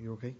You okay? Okay.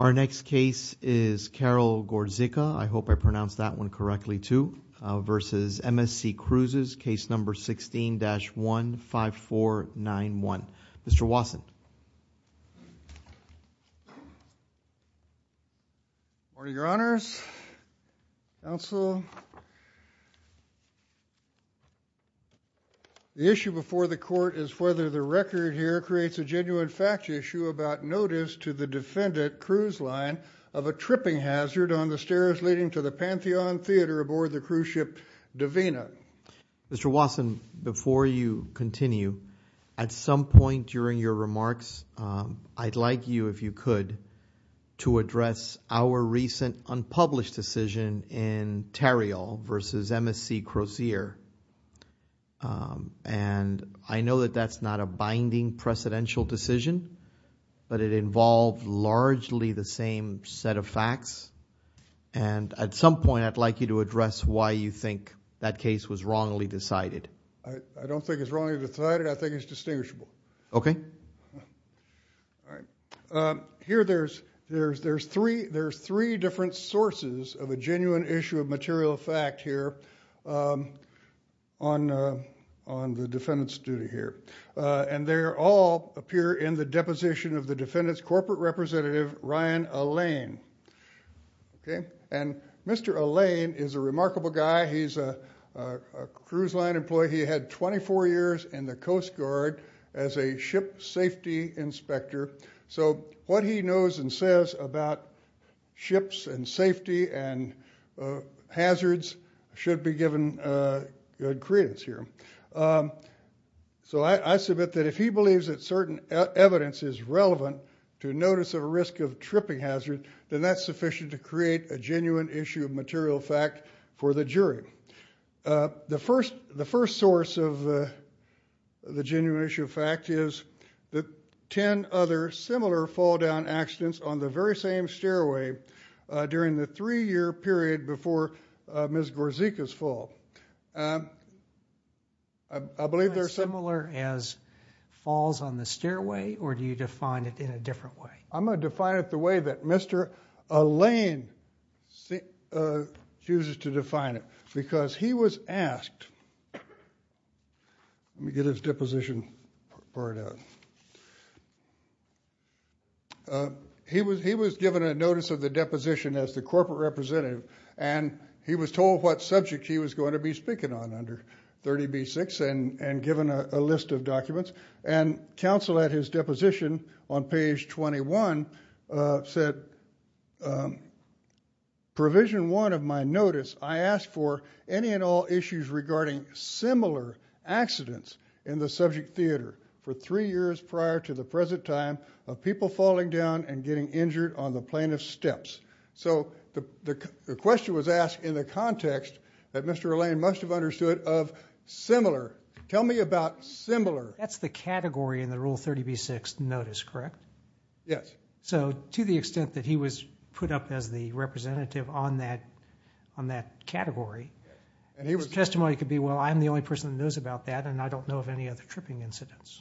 Our next case is Carol Gorzyka, I hope I pronounced that one correctly too, versus MSC Cruises, case number 16-15491. Mr. Watson. Good morning, Your Honors. Counsel, the issue before the court is whether the record here creates a genuine fact issue about notice to the defendant cruise line of a tripping hazard on the stairs leading to the Pantheon Theater aboard the cruise ship Divina. Mr. Watson, before you continue, at some point during your remarks, I'd like you, if you could, to address our recent unpublished decision in Terrial versus MSC Crozier. I know that that's not a binding precedential decision, but it involved largely the same set of facts. At some point, I'd like you to address why you think that case was wrongly decided. I don't think it's wrongly decided, I think it's distinguishable. Okay. All right. Here, there's three different sources of a genuine issue of material fact here on the defendant's duty here, and they all appear in the deposition of the defendant's corporate representative, Ryan Allain. Okay? And Mr. Allain is a remarkable guy. He's a cruise line employee. He had 24 years in the Coast Guard as a ship safety inspector. So, what he knows and says about ships and safety and hazards should be given good credence here. So, I submit that if he believes that certain evidence is relevant to notice of a risk of tripping hazard, then that's sufficient to create a genuine issue of material fact for the jury. The first source of the genuine issue of fact is the 10 other similar fall-down accidents on the very same stairway during the three-year period before Ms. Gorzyka's fall. I believe they're similar as falls on the stairway, or do you define it in a different way? I'm going to define it the way that Mr. Allain chooses to define it, because he was asked Let me get his deposition part out. He was given a notice of the deposition as the corporate representative, and he was told what subject he was going to be speaking on under 30b-6 and given a list of documents. And counsel at his deposition on page 21 said, Provision 1 of my notice, I ask for any and all issues regarding similar accidents in the subject theater for three years prior to the present time of people falling down and getting injured on the plaintiff's steps. So, the question was asked in the context that Mr. Allain must have understood of similar. Tell me about similar. That's the category in the Rule 30b-6 notice, correct? Yes. So, to the extent that he was put up as the representative on that category, his testimony could be, well, I'm the only person who knows about that, and I don't know of any other tripping incidents.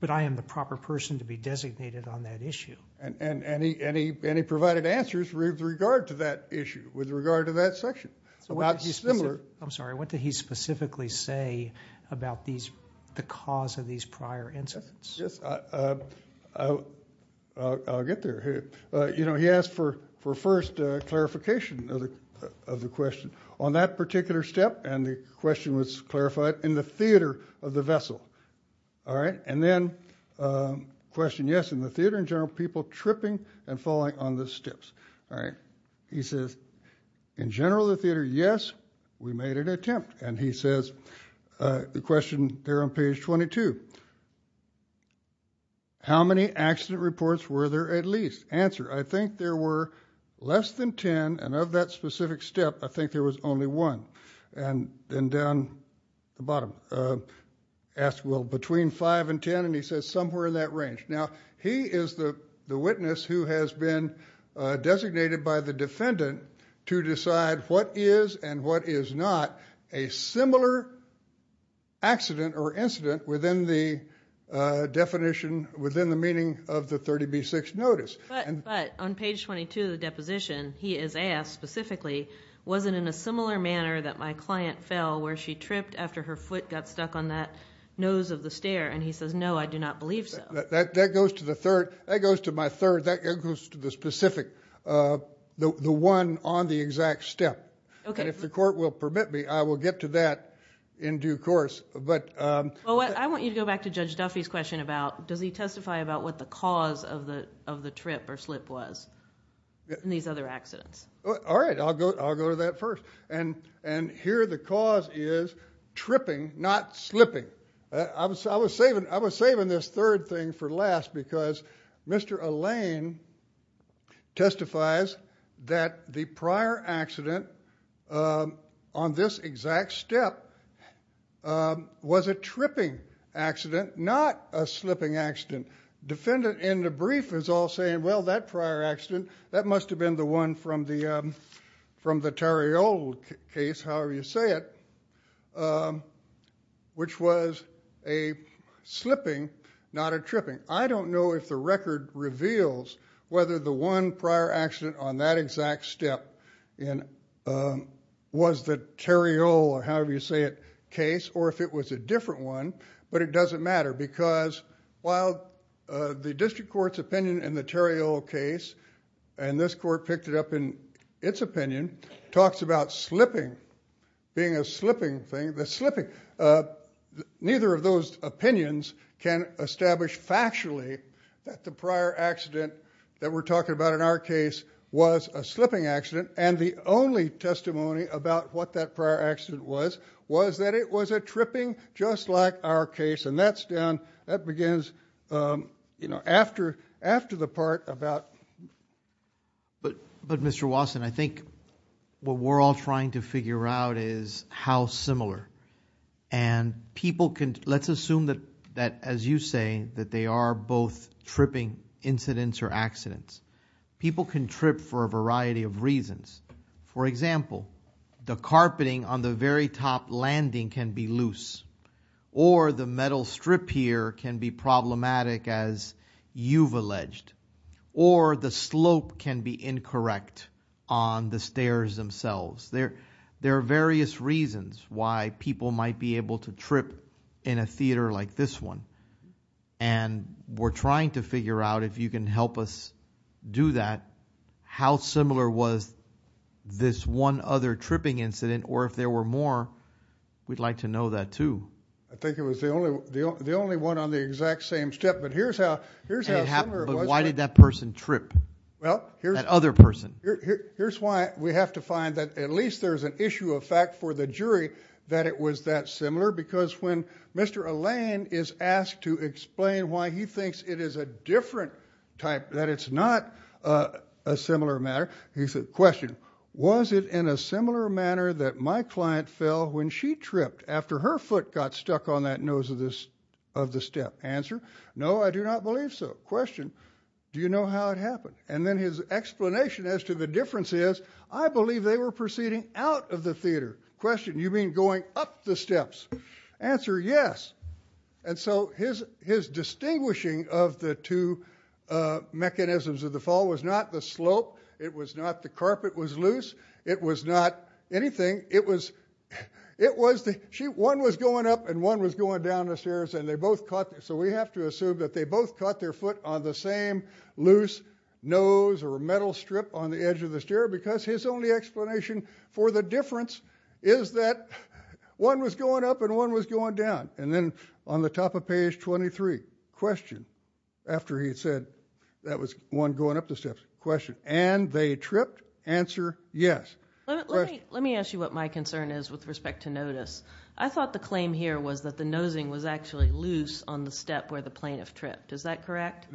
But I am the proper person to be designated on that issue. And he provided answers with regard to that issue, with regard to that section. I'm sorry, what did he specifically say about the cause of these prior incidents? Yes, I'll get there. You know, he asked for first clarification of the question. On that particular step, and the question was clarified, in the theater of the vessel. All right? And then, question yes, in the theater in general, people tripping and falling on the steps. All right? He says, in general, the theater, yes, we made an attempt. And he says, the question there on page 22, how many accident reports were there at least? Answer, I think there were less than 10, and of that specific step, I think there was only one. And then down at the bottom, asked, well, between 5 and 10, and he says somewhere in that range. Now, he is the witness who has been designated by the defendant to decide what is and what is not a similar accident or incident within the definition, within the meaning of the 30B6 notice. But on page 22 of the deposition, he is asked specifically, was it in a similar manner that my client fell where she tripped after her foot got stuck on that nose of the stair? And he says, no, I do not believe so. That goes to the third, that goes to my third, that goes to the specific, the one on the exact step. And if the court will permit me, I will get to that in due course. But... I want you to go back to Judge Duffy's question about, does he testify about what the cause of the trip or slip was in these other accidents? All right. I will go to that first. And here the cause is tripping, not slipping. I was saving this third thing for last because Mr. Allain testifies that the prior accident on this exact step was a tripping accident, not a slipping accident. Defendant in the brief is all saying, well, that prior accident, that must have been the one from the Tarriol case, however you say it, which was a slipping, not a tripping. I don't know if the record reveals whether the one prior accident on that exact step was the Tarriol, or however you say it, case, or if it was a different one, but it doesn't matter because while the district court's opinion in the Tarriol case, and this court picked it up in its opinion, talks about slipping being a slipping thing. Neither of those opinions can establish factually that the prior accident that we're talking about in our case was a slipping accident, and the only testimony about what that prior accident was, was that it was a tripping just like our case, and that begins after the part about... But Mr. Wasson, I think what we're all trying to figure out is how similar, and people can... Let's assume that, as you say, that they are both tripping incidents or accidents. People can trip for a variety of reasons. For example, the carpeting on the very top landing can be loose, or the metal strip here can be problematic as you've alleged, or the slope can be incorrect on the stairs themselves. There are various reasons why people might be able to trip in a theater like this one, and we're trying to figure out if you can help us do that, how similar was this one other tripping incident, or if there were more, we'd like to know that too. I think it was the only one on the exact same step, but here's how... But why did that person trip, that other person? Here's why we have to find that at least there's an issue of fact for the jury that it was that similar, because when Mr. Allain is asked to explain why he thinks it is a different type, that it's not a similar matter, he said, question, was it in a similar manner that my client fell when she tripped after her foot got stuck on that nose of the step? Answer, no, I do not believe so. Question, do you know how it happened? And then his explanation as to the difference is, I believe they were proceeding out of the theater. Question, you mean going up the steps? Answer, yes. And so his distinguishing of the two mechanisms of the fall was not the slope, it was not the carpet was loose, it was not anything, it was... one was going up and one was going down the stairs, and they both caught... so we have to assume that they both caught their foot on the same loose nose or metal strip on the edge of the stair, because his only explanation for the difference is that one was going up and one was going down. And then on the top of page 23, question, after he said that was one going up the steps, question, and they tripped? Answer, yes. Let me ask you what my concern is with respect to notice. I thought the claim here was that the nosing was actually loose on the step where the plaintiff tripped, is that correct?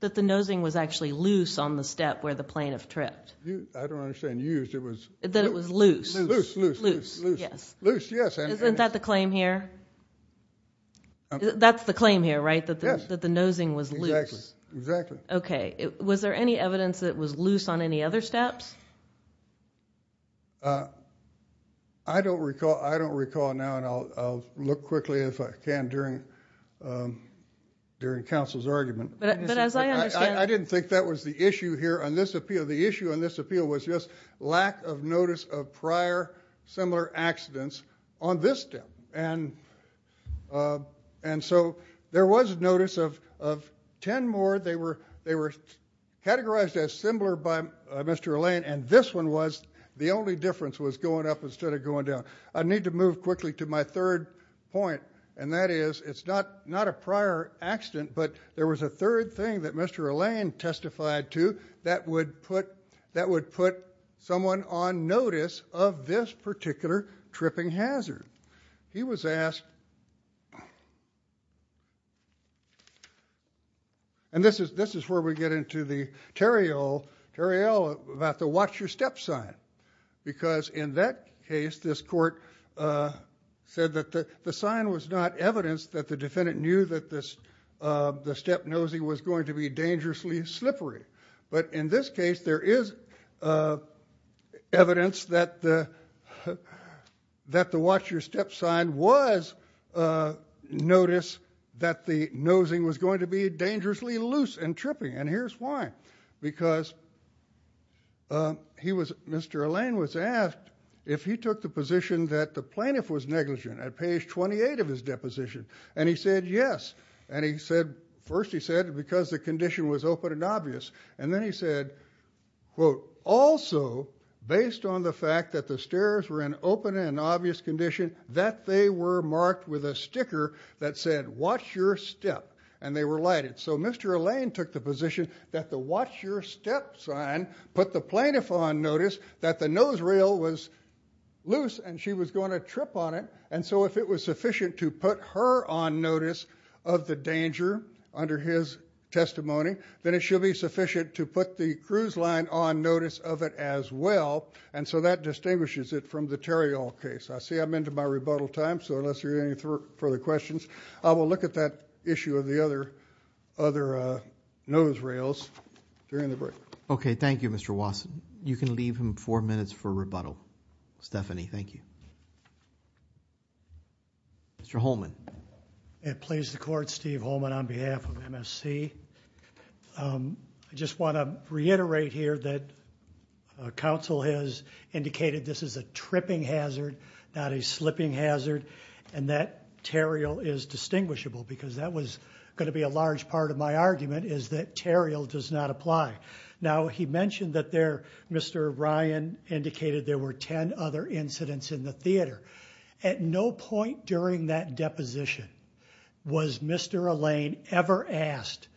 That the nosing was actually loose on the step where the plaintiff tripped? I don't understand, you used it was... That it was loose? Loose, loose, loose. Isn't that the claim here? That's the claim here, right, that the nosing was loose? Exactly. Okay, was there any evidence that it was loose on any other steps? I don't recall now, and I'll look quickly if I can during counsel's argument. But as I understand... I didn't think that was the issue here on this appeal. The issue on this appeal was just lack of notice of prior similar accidents on this step. And so there was notice of ten more. They were categorized as similar by Mr. Allain, and this one was the only difference was going up instead of going down. I need to move quickly to my third point, and that is it's not a prior accident, but there was a third thing that Mr. Allain testified to that would put someone on notice of this particular tripping hazard. He was asked... And this is where we get into the Terriell about the watch your step sign. Because in that case, this court said that the sign was not evidence that the defendant knew that the step nosing was going to be dangerously slippery. But in this case, there is evidence that the watch your step sign was notice that the nosing was going to be dangerously loose and tripping. And here's why. Because he was... Mr. Allain was asked if he took the position that the plaintiff was negligent at page 28 of his deposition. And he said yes. And he said... first he said because the condition was open and obvious. And then he said... also based on the fact that the stairs were in open and obvious condition, that they were marked with a sticker that said watch your step. And they were lighted. So Mr. Allain took the position that the watch your step sign put the plaintiff on notice that the nose rail was loose and she was going to trip on it. And so if it was sufficient to put her on notice of the danger under his testimony, then it should be sufficient to put the cruise line on notice of it as well. And so that distinguishes it from the Terrial case. I see I'm into my rebuttal time. So unless there are any further questions, I will look at that issue of the other nose rails during the break. Okay. Thank you, Mr. Wasson. You can leave him four minutes for rebuttal. Stephanie, thank you. Mr. Holman. It pleases the court, Steve Holman on behalf of MSC. I just want to reiterate here that counsel has indicated this is a tripping hazard, not a slipping hazard. And that Terrial is distinguishable because that was going to be a large part of my argument is that Terrial does not apply. Now he mentioned that there, Mr. Ryan indicated there were 10 other incidents in the theater. At no point during that deposition was Mr. Allain ever asked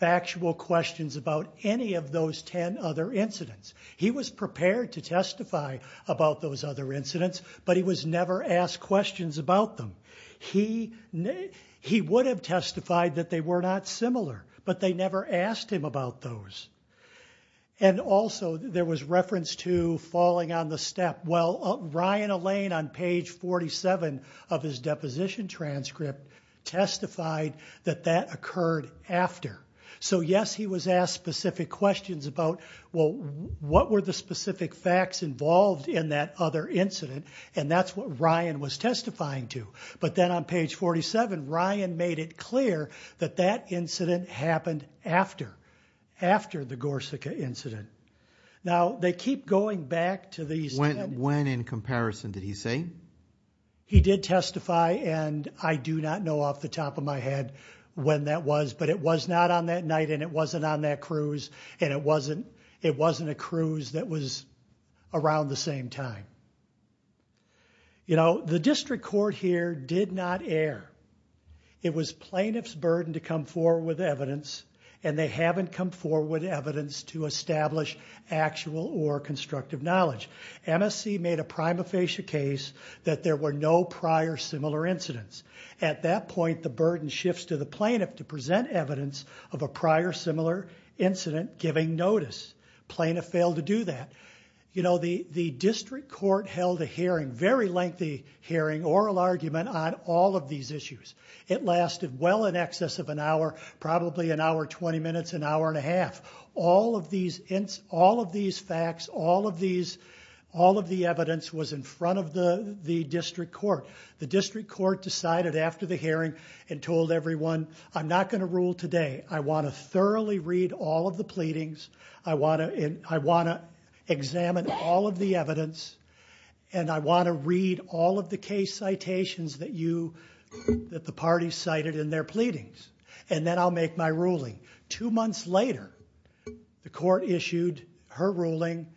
factual questions about any of those 10 other incidents. He was prepared to testify about those other incidents, but he was never asked questions about them. He would have testified that they were not similar, but they never asked him about those. And also there was reference to falling on the step. Well, Ryan Allain on page 47 of his deposition transcript testified that that occurred after. So yes, he was asked specific questions about, well, what were the specific facts involved in that other incident? And that's what Ryan was testifying to. But then on page 47, Ryan made it clear that that incident happened after, after the Gorsica incident. Now they keep going back to these 10. When in comparison did he say? He did testify and I do not know off the top of my head when that was, but it was not on that night and it wasn't on that cruise and it wasn't a cruise that was around the same time. You know, the plaintiff's burden to come forward with evidence and they haven't come forward with evidence to establish actual or constructive knowledge. MSC made a prima facie case that there were no prior similar incidents. At that point the burden shifts to the plaintiff to present evidence of a prior similar incident giving notice. Plaintiff failed to do that. You know, the district court held a hearing, very lengthy hearing, oral argument on all of these issues. It lasted well in excess of an hour, probably an hour and 20 minutes, an hour and a half. All of these facts, all of these, all of the evidence was in front of the district court. The district court decided after the hearing and told everyone, I'm not going to rule today. I want to thoroughly read all of the pleadings. I want to examine all of the evidence and I want to read all of the case citations that you, that the party cited in their pleadings and then I'll make my ruling. Two months later, the court issued her ruling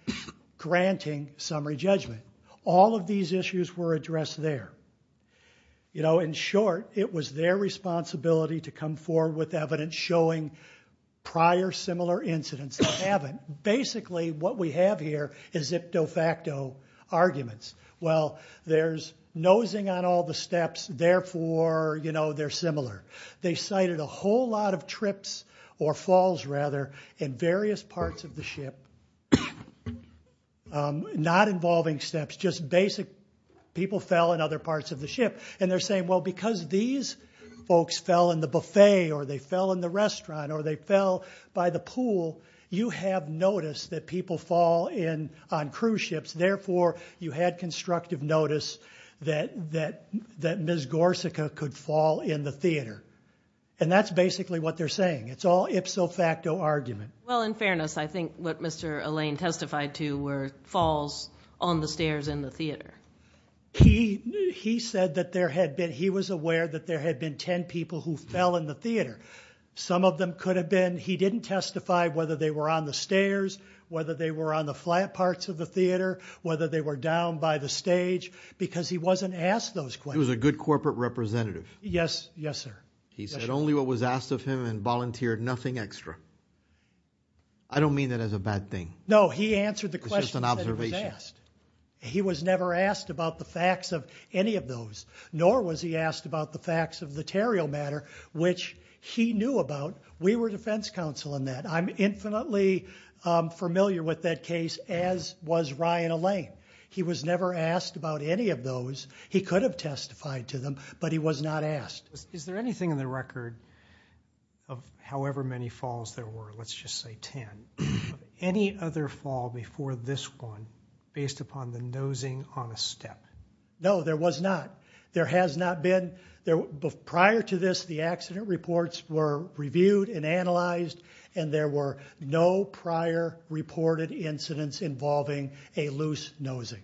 granting summary judgment. All of these issues were addressed there. You know, in short, it was their responsibility to come forward with evidence showing prior similar incidents. They haven't. Basically, what we have here is de facto arguments. Well, there's nosing on all the steps, therefore, you know, they're similar. They cited a whole lot of trips, or falls rather, in various parts of the ship, not involving steps, just basic people fell in other parts of the ship. And they're saying, well, because these folks fell in the buffet or they fell in the restaurant or they fell by the pool, you have noticed that people fall in on cruise ships, therefore, you had constructive notice that Ms. Gorsica could fall in the theater. And that's basically what they're saying. It's all ipso facto argument. Well, in fairness, I think what Mr. Allain testified to were falls on the stairs in the theater. He said that there had been, he was aware that there had been 10 people who fell in the theater. Some of them could have been, he didn't testify whether they were on the stairs, whether they were on the flat parts of the theater, whether they were down by the stage, because he wasn't asked those questions. He was a good corporate representative. Yes, yes, sir. He said only what was asked of him and volunteered nothing extra. I don't mean that as a bad thing. No, he answered the question. It's just an observation. He was never asked about the facts of any of those, nor was he asked about the facts of the Terriel matter, which he knew about. We were defense counsel in that. I'm infinitely familiar with that case, as was Ryan Allain. He was never asked about any of those. He could have testified to them, but he was not asked. Is there anything in the record of however many falls there were, let's just say 10, any other fall before this one, based upon the nosing on a step? No, there was not. There has not been. Prior to this, the accident reports were reviewed and analyzed, and there were no prior reported incidents involving a loose nosing.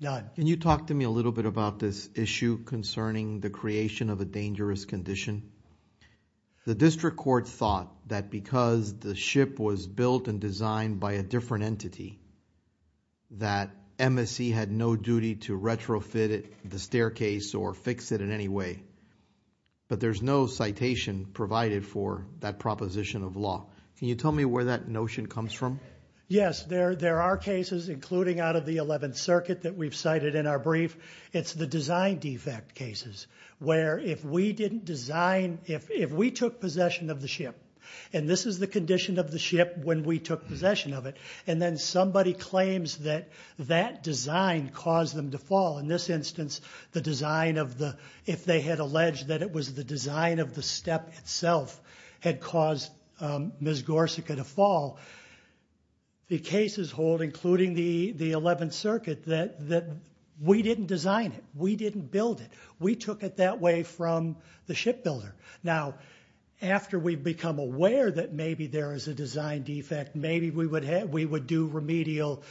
None. Can you talk to me a little bit about this issue concerning the creation of a dangerous condition? The district court thought that because the ship was built and designed by a different entity, that MSC had no duty to retrofit the staircase or fix it in any way, but there's no citation provided for that proposition of law. Can you tell me where that notion comes from? Yes, there are cases, including out of the 11th Circuit that we've cited in our brief. It's the design defect cases, where if we took possession of the ship, and this is the condition of the ship when we took possession of it, and then somebody claims that that design caused them to fall. In this instance, if they had alleged that it was the design of the step itself had caused Ms. Gorsica to fall, the cases hold, including the 11th Circuit, we didn't design it. We didn't build it. We took it that way from the shipbuilder. Now, after we've become aware that maybe there is a design defect, maybe we would do remedial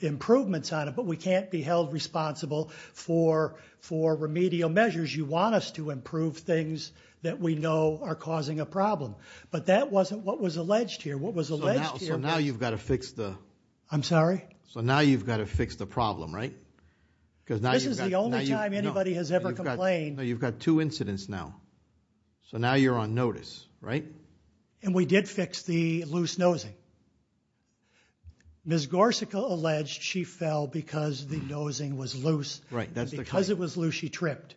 improvements on it, but we can't be held responsible for remedial measures. You want us to improve things that we know are causing a problem, but that wasn't what was alleged here. So now you've got to fix the... I'm sorry? So now you've got to fix the problem, right? This is the only time anybody has ever complained. You've got two incidents now, so now you're on notice, right? And we did fix the loose nosing. Ms. Gorsica alleged she fell because the nosing was loose, and because it was loose, she tripped.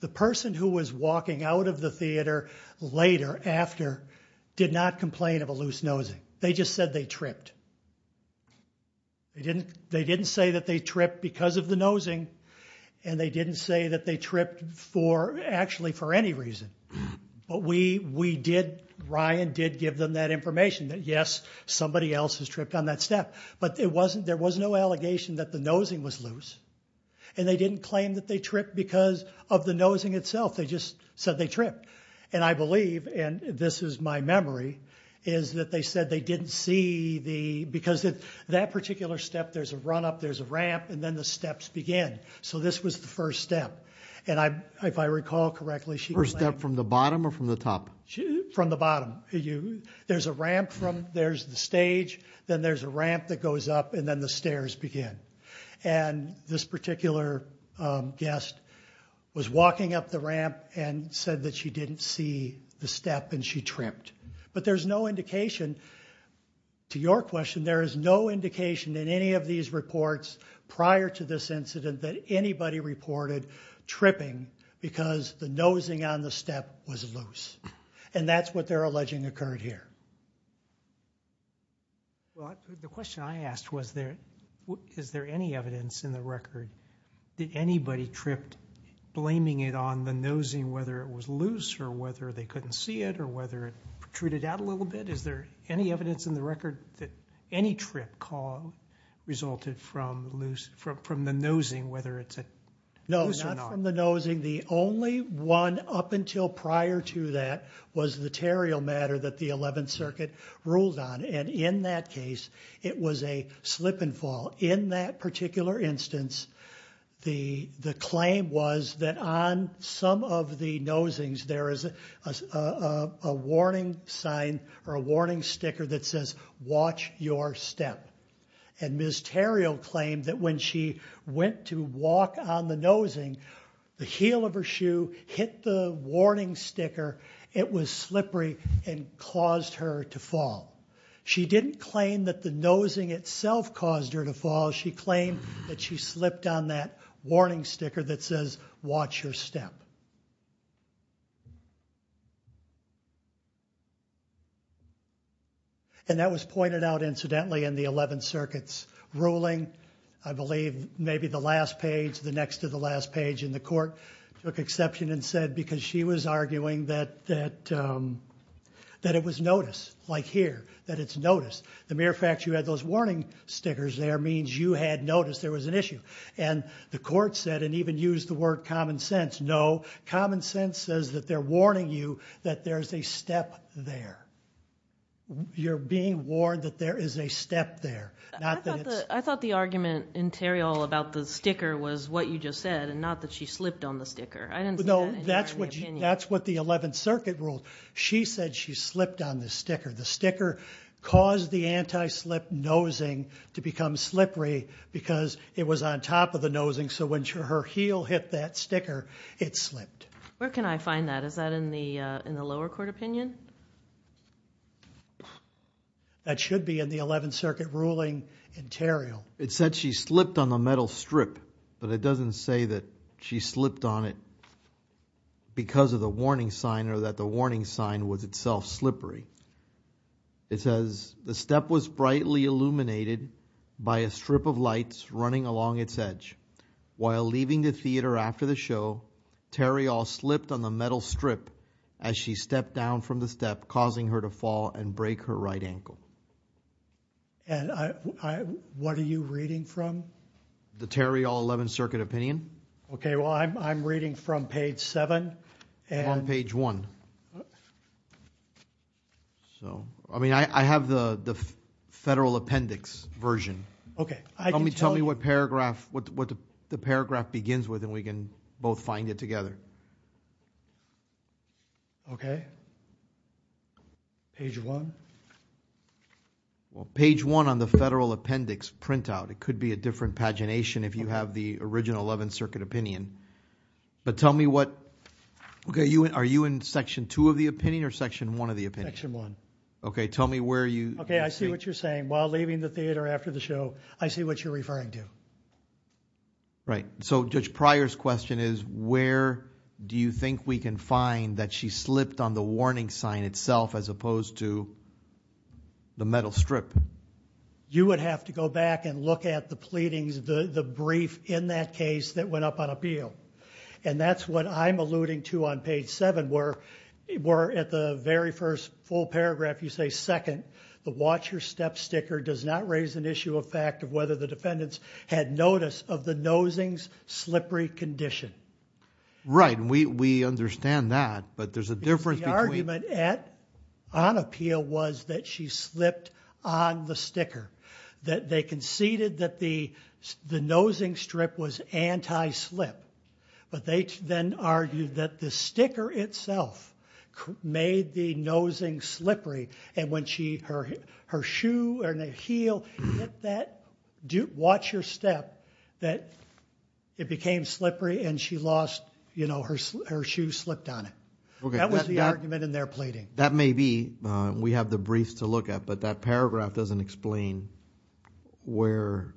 The person who was walking out of the theater later after did not complain of a loose nosing. They just said they tripped. They didn't say that they tripped because of the nosing, and they didn't say that they tripped actually for any reason. But we did, Ryan did give them that information, that yes, somebody else has tripped on that step. But there was no allegation that the nosing was loose, and they didn't claim that they tripped because of the nosing itself. They just said they tripped. And I believe, and this is my memory, is that they said they didn't see the... Because that particular step, there's a run-up, there's a ramp, and then the steps begin. So this was the first step. And if I recall correctly, she... First step from the bottom or from the top? From the bottom. There's a ramp, there's the stage, then there's a ramp that goes up, and then the stairs begin. And this particular guest was walking up the ramp and said that she didn't see the step and she tripped. But there's no indication, to your question, there is no indication in any of these reports prior to this incident that anybody reported tripping because the nosing on the step was loose. And that's what they're alleging occurred here. The question I asked was, is there any evidence in the record that anybody tripped blaming it on the nosing, whether it was loose or whether they couldn't see it or whether it protruded out a little bit? Is there any evidence in the record that any trip call resulted from the nosing, whether it's loose or not? No, not from the nosing. The only one up until prior to that was the terriel matter that the 11th Circuit ruled on. And in that case, it was a slip and fall. In that particular instance, the claim was that on some of the nosings there is a warning sign or a warning sticker that says, watch your step. And Ms. Terriel claimed that when she went to walk on the nosing, the heel of her shoe hit the warning sticker. It was slippery and caused her to fall. She didn't claim that the nosing itself caused her to fall. She claimed that she slipped on that warning sticker that says, watch your step. And that was pointed out, incidentally, in the 11th Circuit's ruling. I believe maybe the last page, the next to the last page in the court, took exception and said because she was arguing that it was notice, like here, that it's notice. The mere fact you had those warning stickers there means you had notice there was an issue. And the court said and even used the word common sense. No, common sense says that they're warning you that there's a step there. You're being warned that there is a step there. I thought the argument in Terriel about the sticker was what you just said and not that she slipped on the sticker. No, that's what the 11th Circuit ruled. She said she slipped on the sticker. The sticker caused the anti-slip nosing to become slippery because it was on top of the nosing. So when her heel hit that sticker, it slipped. Where can I find that? Is that in the lower court opinion? That should be in the 11th Circuit ruling in Terriel. It said she slipped on the metal strip, but it doesn't say that she slipped on it because of the warning sign or that the warning sign was itself slippery. It says the step was brightly illuminated by a strip of lights running along its edge. While leaving the theater after the show, Terriel slipped on the metal strip as she stepped down from the step, causing her to fall and break her right ankle. And what are you reading from? The Terriel 11th Circuit opinion. Okay, well, I'm reading from page 7. On page 1. So, I mean, I have the federal appendix version. Okay. Tell me what paragraph, what the paragraph begins with and we can both find it together. Okay. Page 1. Well, page 1 on the federal appendix printout. It could be a different pagination if you have the original 11th Circuit opinion. But tell me what... Okay, are you in section 2 of the opinion or section 1 of the opinion? Section 1. Okay, tell me where you... Okay, I see what you're saying. While leaving the theater after the show, I see what you're referring to. Right. So Judge Pryor's question is where do you think we can find that she slipped on the warning sign itself as opposed to the metal strip? You would have to go back and look at the pleadings, the brief in that case that went up on appeal. And that's what I'm alluding to on page 7 where at the very first full paragraph you say, second, the watch your step sticker does not raise an issue of fact of whether the defendants had notice of the nosing's slippery condition. Right, and we understand that, but there's a difference between... On appeal was that she slipped on the sticker. That they conceded that the nosing strip was anti-slip. But they then argued that the sticker itself made the nosing slippery. And when her shoe or heel hit that watch your step, that it became slippery and she lost, you know, her shoe slipped on it. Okay. That was the argument in their pleading. That may be. We have the briefs to look at, but that paragraph doesn't explain where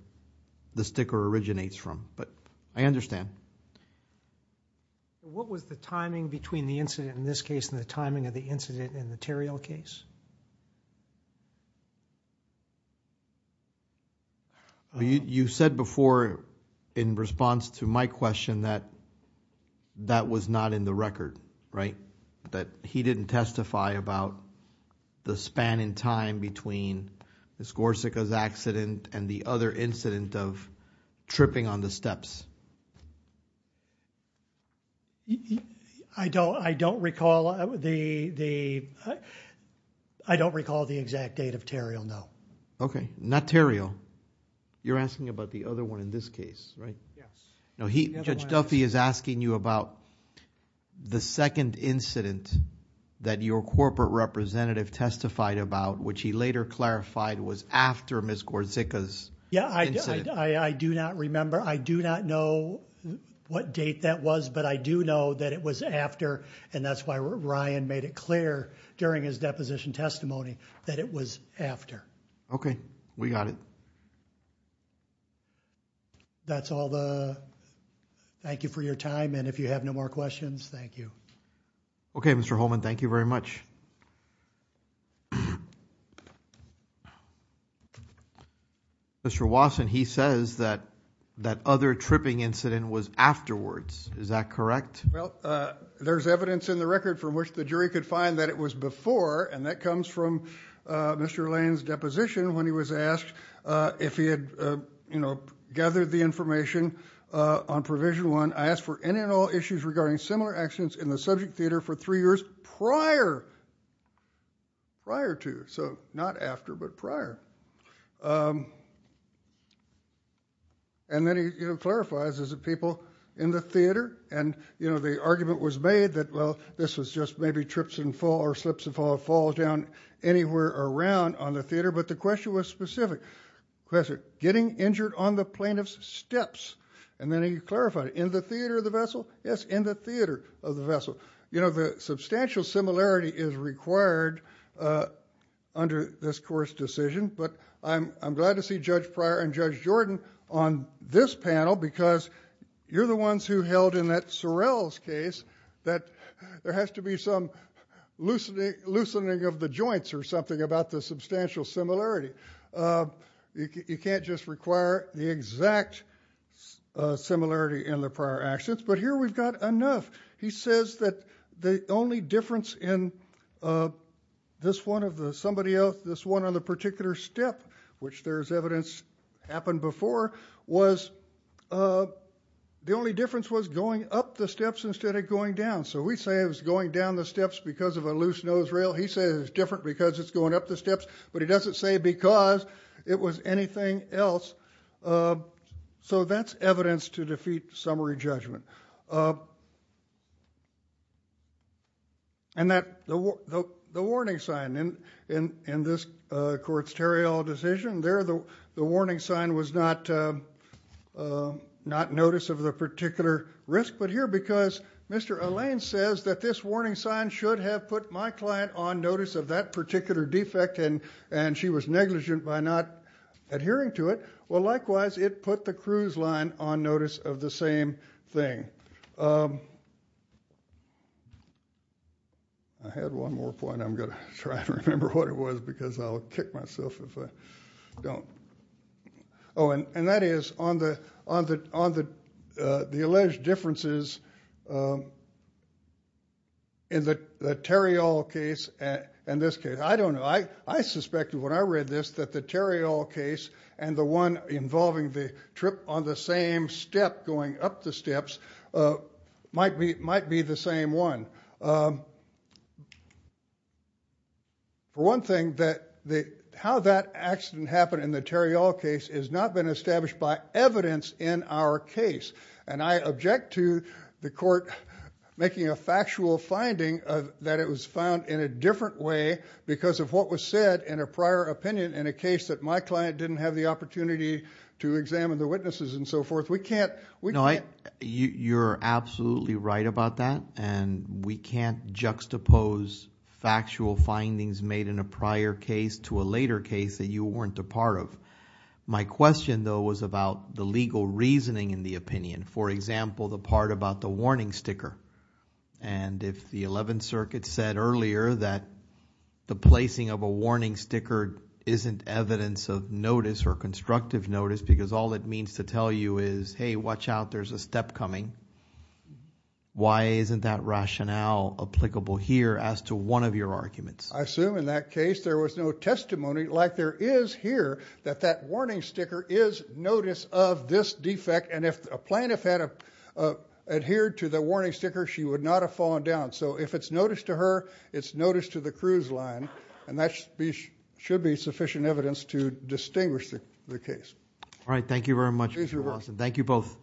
the sticker originates from. But I understand. What was the timing between the incident in this case and the timing of the incident in the Terriell case? You said before in response to my question that that was not in the record, right? That he didn't testify about the span in time between Miss Gorsica's accident and the other incident of tripping on the steps. I don't recall the exact date of Terriell, no. Okay. Not Terriell. You're asking about the other one in this case, right? Yes. No, Judge Duffy is asking you about the second incident that your corporate representative testified about, which he later clarified was after Miss Gorsica's incident. Yeah, I do not remember. I do not know what date that was, but I do know that it was after, and that's why Ryan made it clear during his deposition testimony, that it was after. Okay. We got it. That's all. Thank you for your time, and if you have no more questions, thank you. Okay, Mr. Holman, thank you very much. Mr. Wasson, he says that that other tripping incident was afterwards. Is that correct? Well, there's evidence in the record from which the jury could find that it was before, and that comes from Mr. Lane's deposition when he was asked if he had gathered the information on Provision 1. I asked for any and all issues regarding similar accidents in the subject theater for three years prior, prior to. So not after, but prior. And then he clarifies, is it people in the theater? And, you know, the argument was made that, well, this was just maybe trips and fall or slips and falls, falls down anywhere around on the theater, but the question was specific. The question, getting injured on the plaintiff's steps, and then he clarified it. In the theater of the vessel? Yes, in the theater of the vessel. You know, the substantial similarity is required under this court's decision, but I'm glad to see Judge Pryor and Judge Jordan on this panel because you're the ones who held in that Sorrell's case that there has to be some loosening of the joints or something about the substantial similarity. You can't just require the exact similarity in the prior accidents, but here we've got enough. He says that the only difference in this one of the somebody else, this one on the particular step, which there's evidence happened before, was the only difference was going up the steps instead of going down. So we say it was going down the steps because of a loose nose rail. He says it's different because it's going up the steps, but he doesn't say because it was anything else. So that's evidence to defeat summary judgment. And the warning sign in this court's Terriall decision, there the warning sign was not notice of the particular risk, but here because Mr. Allain says that this warning sign should have put my client on notice of that particular defect and she was negligent by not adhering to it, well, likewise, it put the cruise line on notice of the same thing. I had one more point. I'm going to try to remember what it was because I'll kick myself if I don't. Oh, and that is on the alleged differences in the Terriall case and this case. I don't know. I suspected when I read this that the Terriall case and the one involving the trip on the same step going up the steps might be the same one. For one thing, how that accident happened in the Terriall case has not been established by evidence in our case, and I object to the court making a factual finding that it was found in a different way because of what was said in a prior opinion in a case that my client didn't have the opportunity to examine the witnesses and so forth. We can't – You're absolutely right about that, and we can't juxtapose factual findings made in a prior case to a later case that you weren't a part of. My question, though, was about the legal reasoning in the opinion, for example, the part about the warning sticker. And if the Eleventh Circuit said earlier that the placing of a warning sticker isn't evidence of notice or constructive notice because all it means to tell you is, hey, watch out, there's a step coming, why isn't that rationale applicable here as to one of your arguments? I assume in that case there was no testimony like there is here that that warning sticker is notice of this defect, and if a plaintiff had adhered to the warning sticker, she would not have fallen down. So if it's notice to her, it's notice to the cruise line, and that should be sufficient evidence to distinguish the case. All right, thank you very much, Mr. Watson. Thank you both.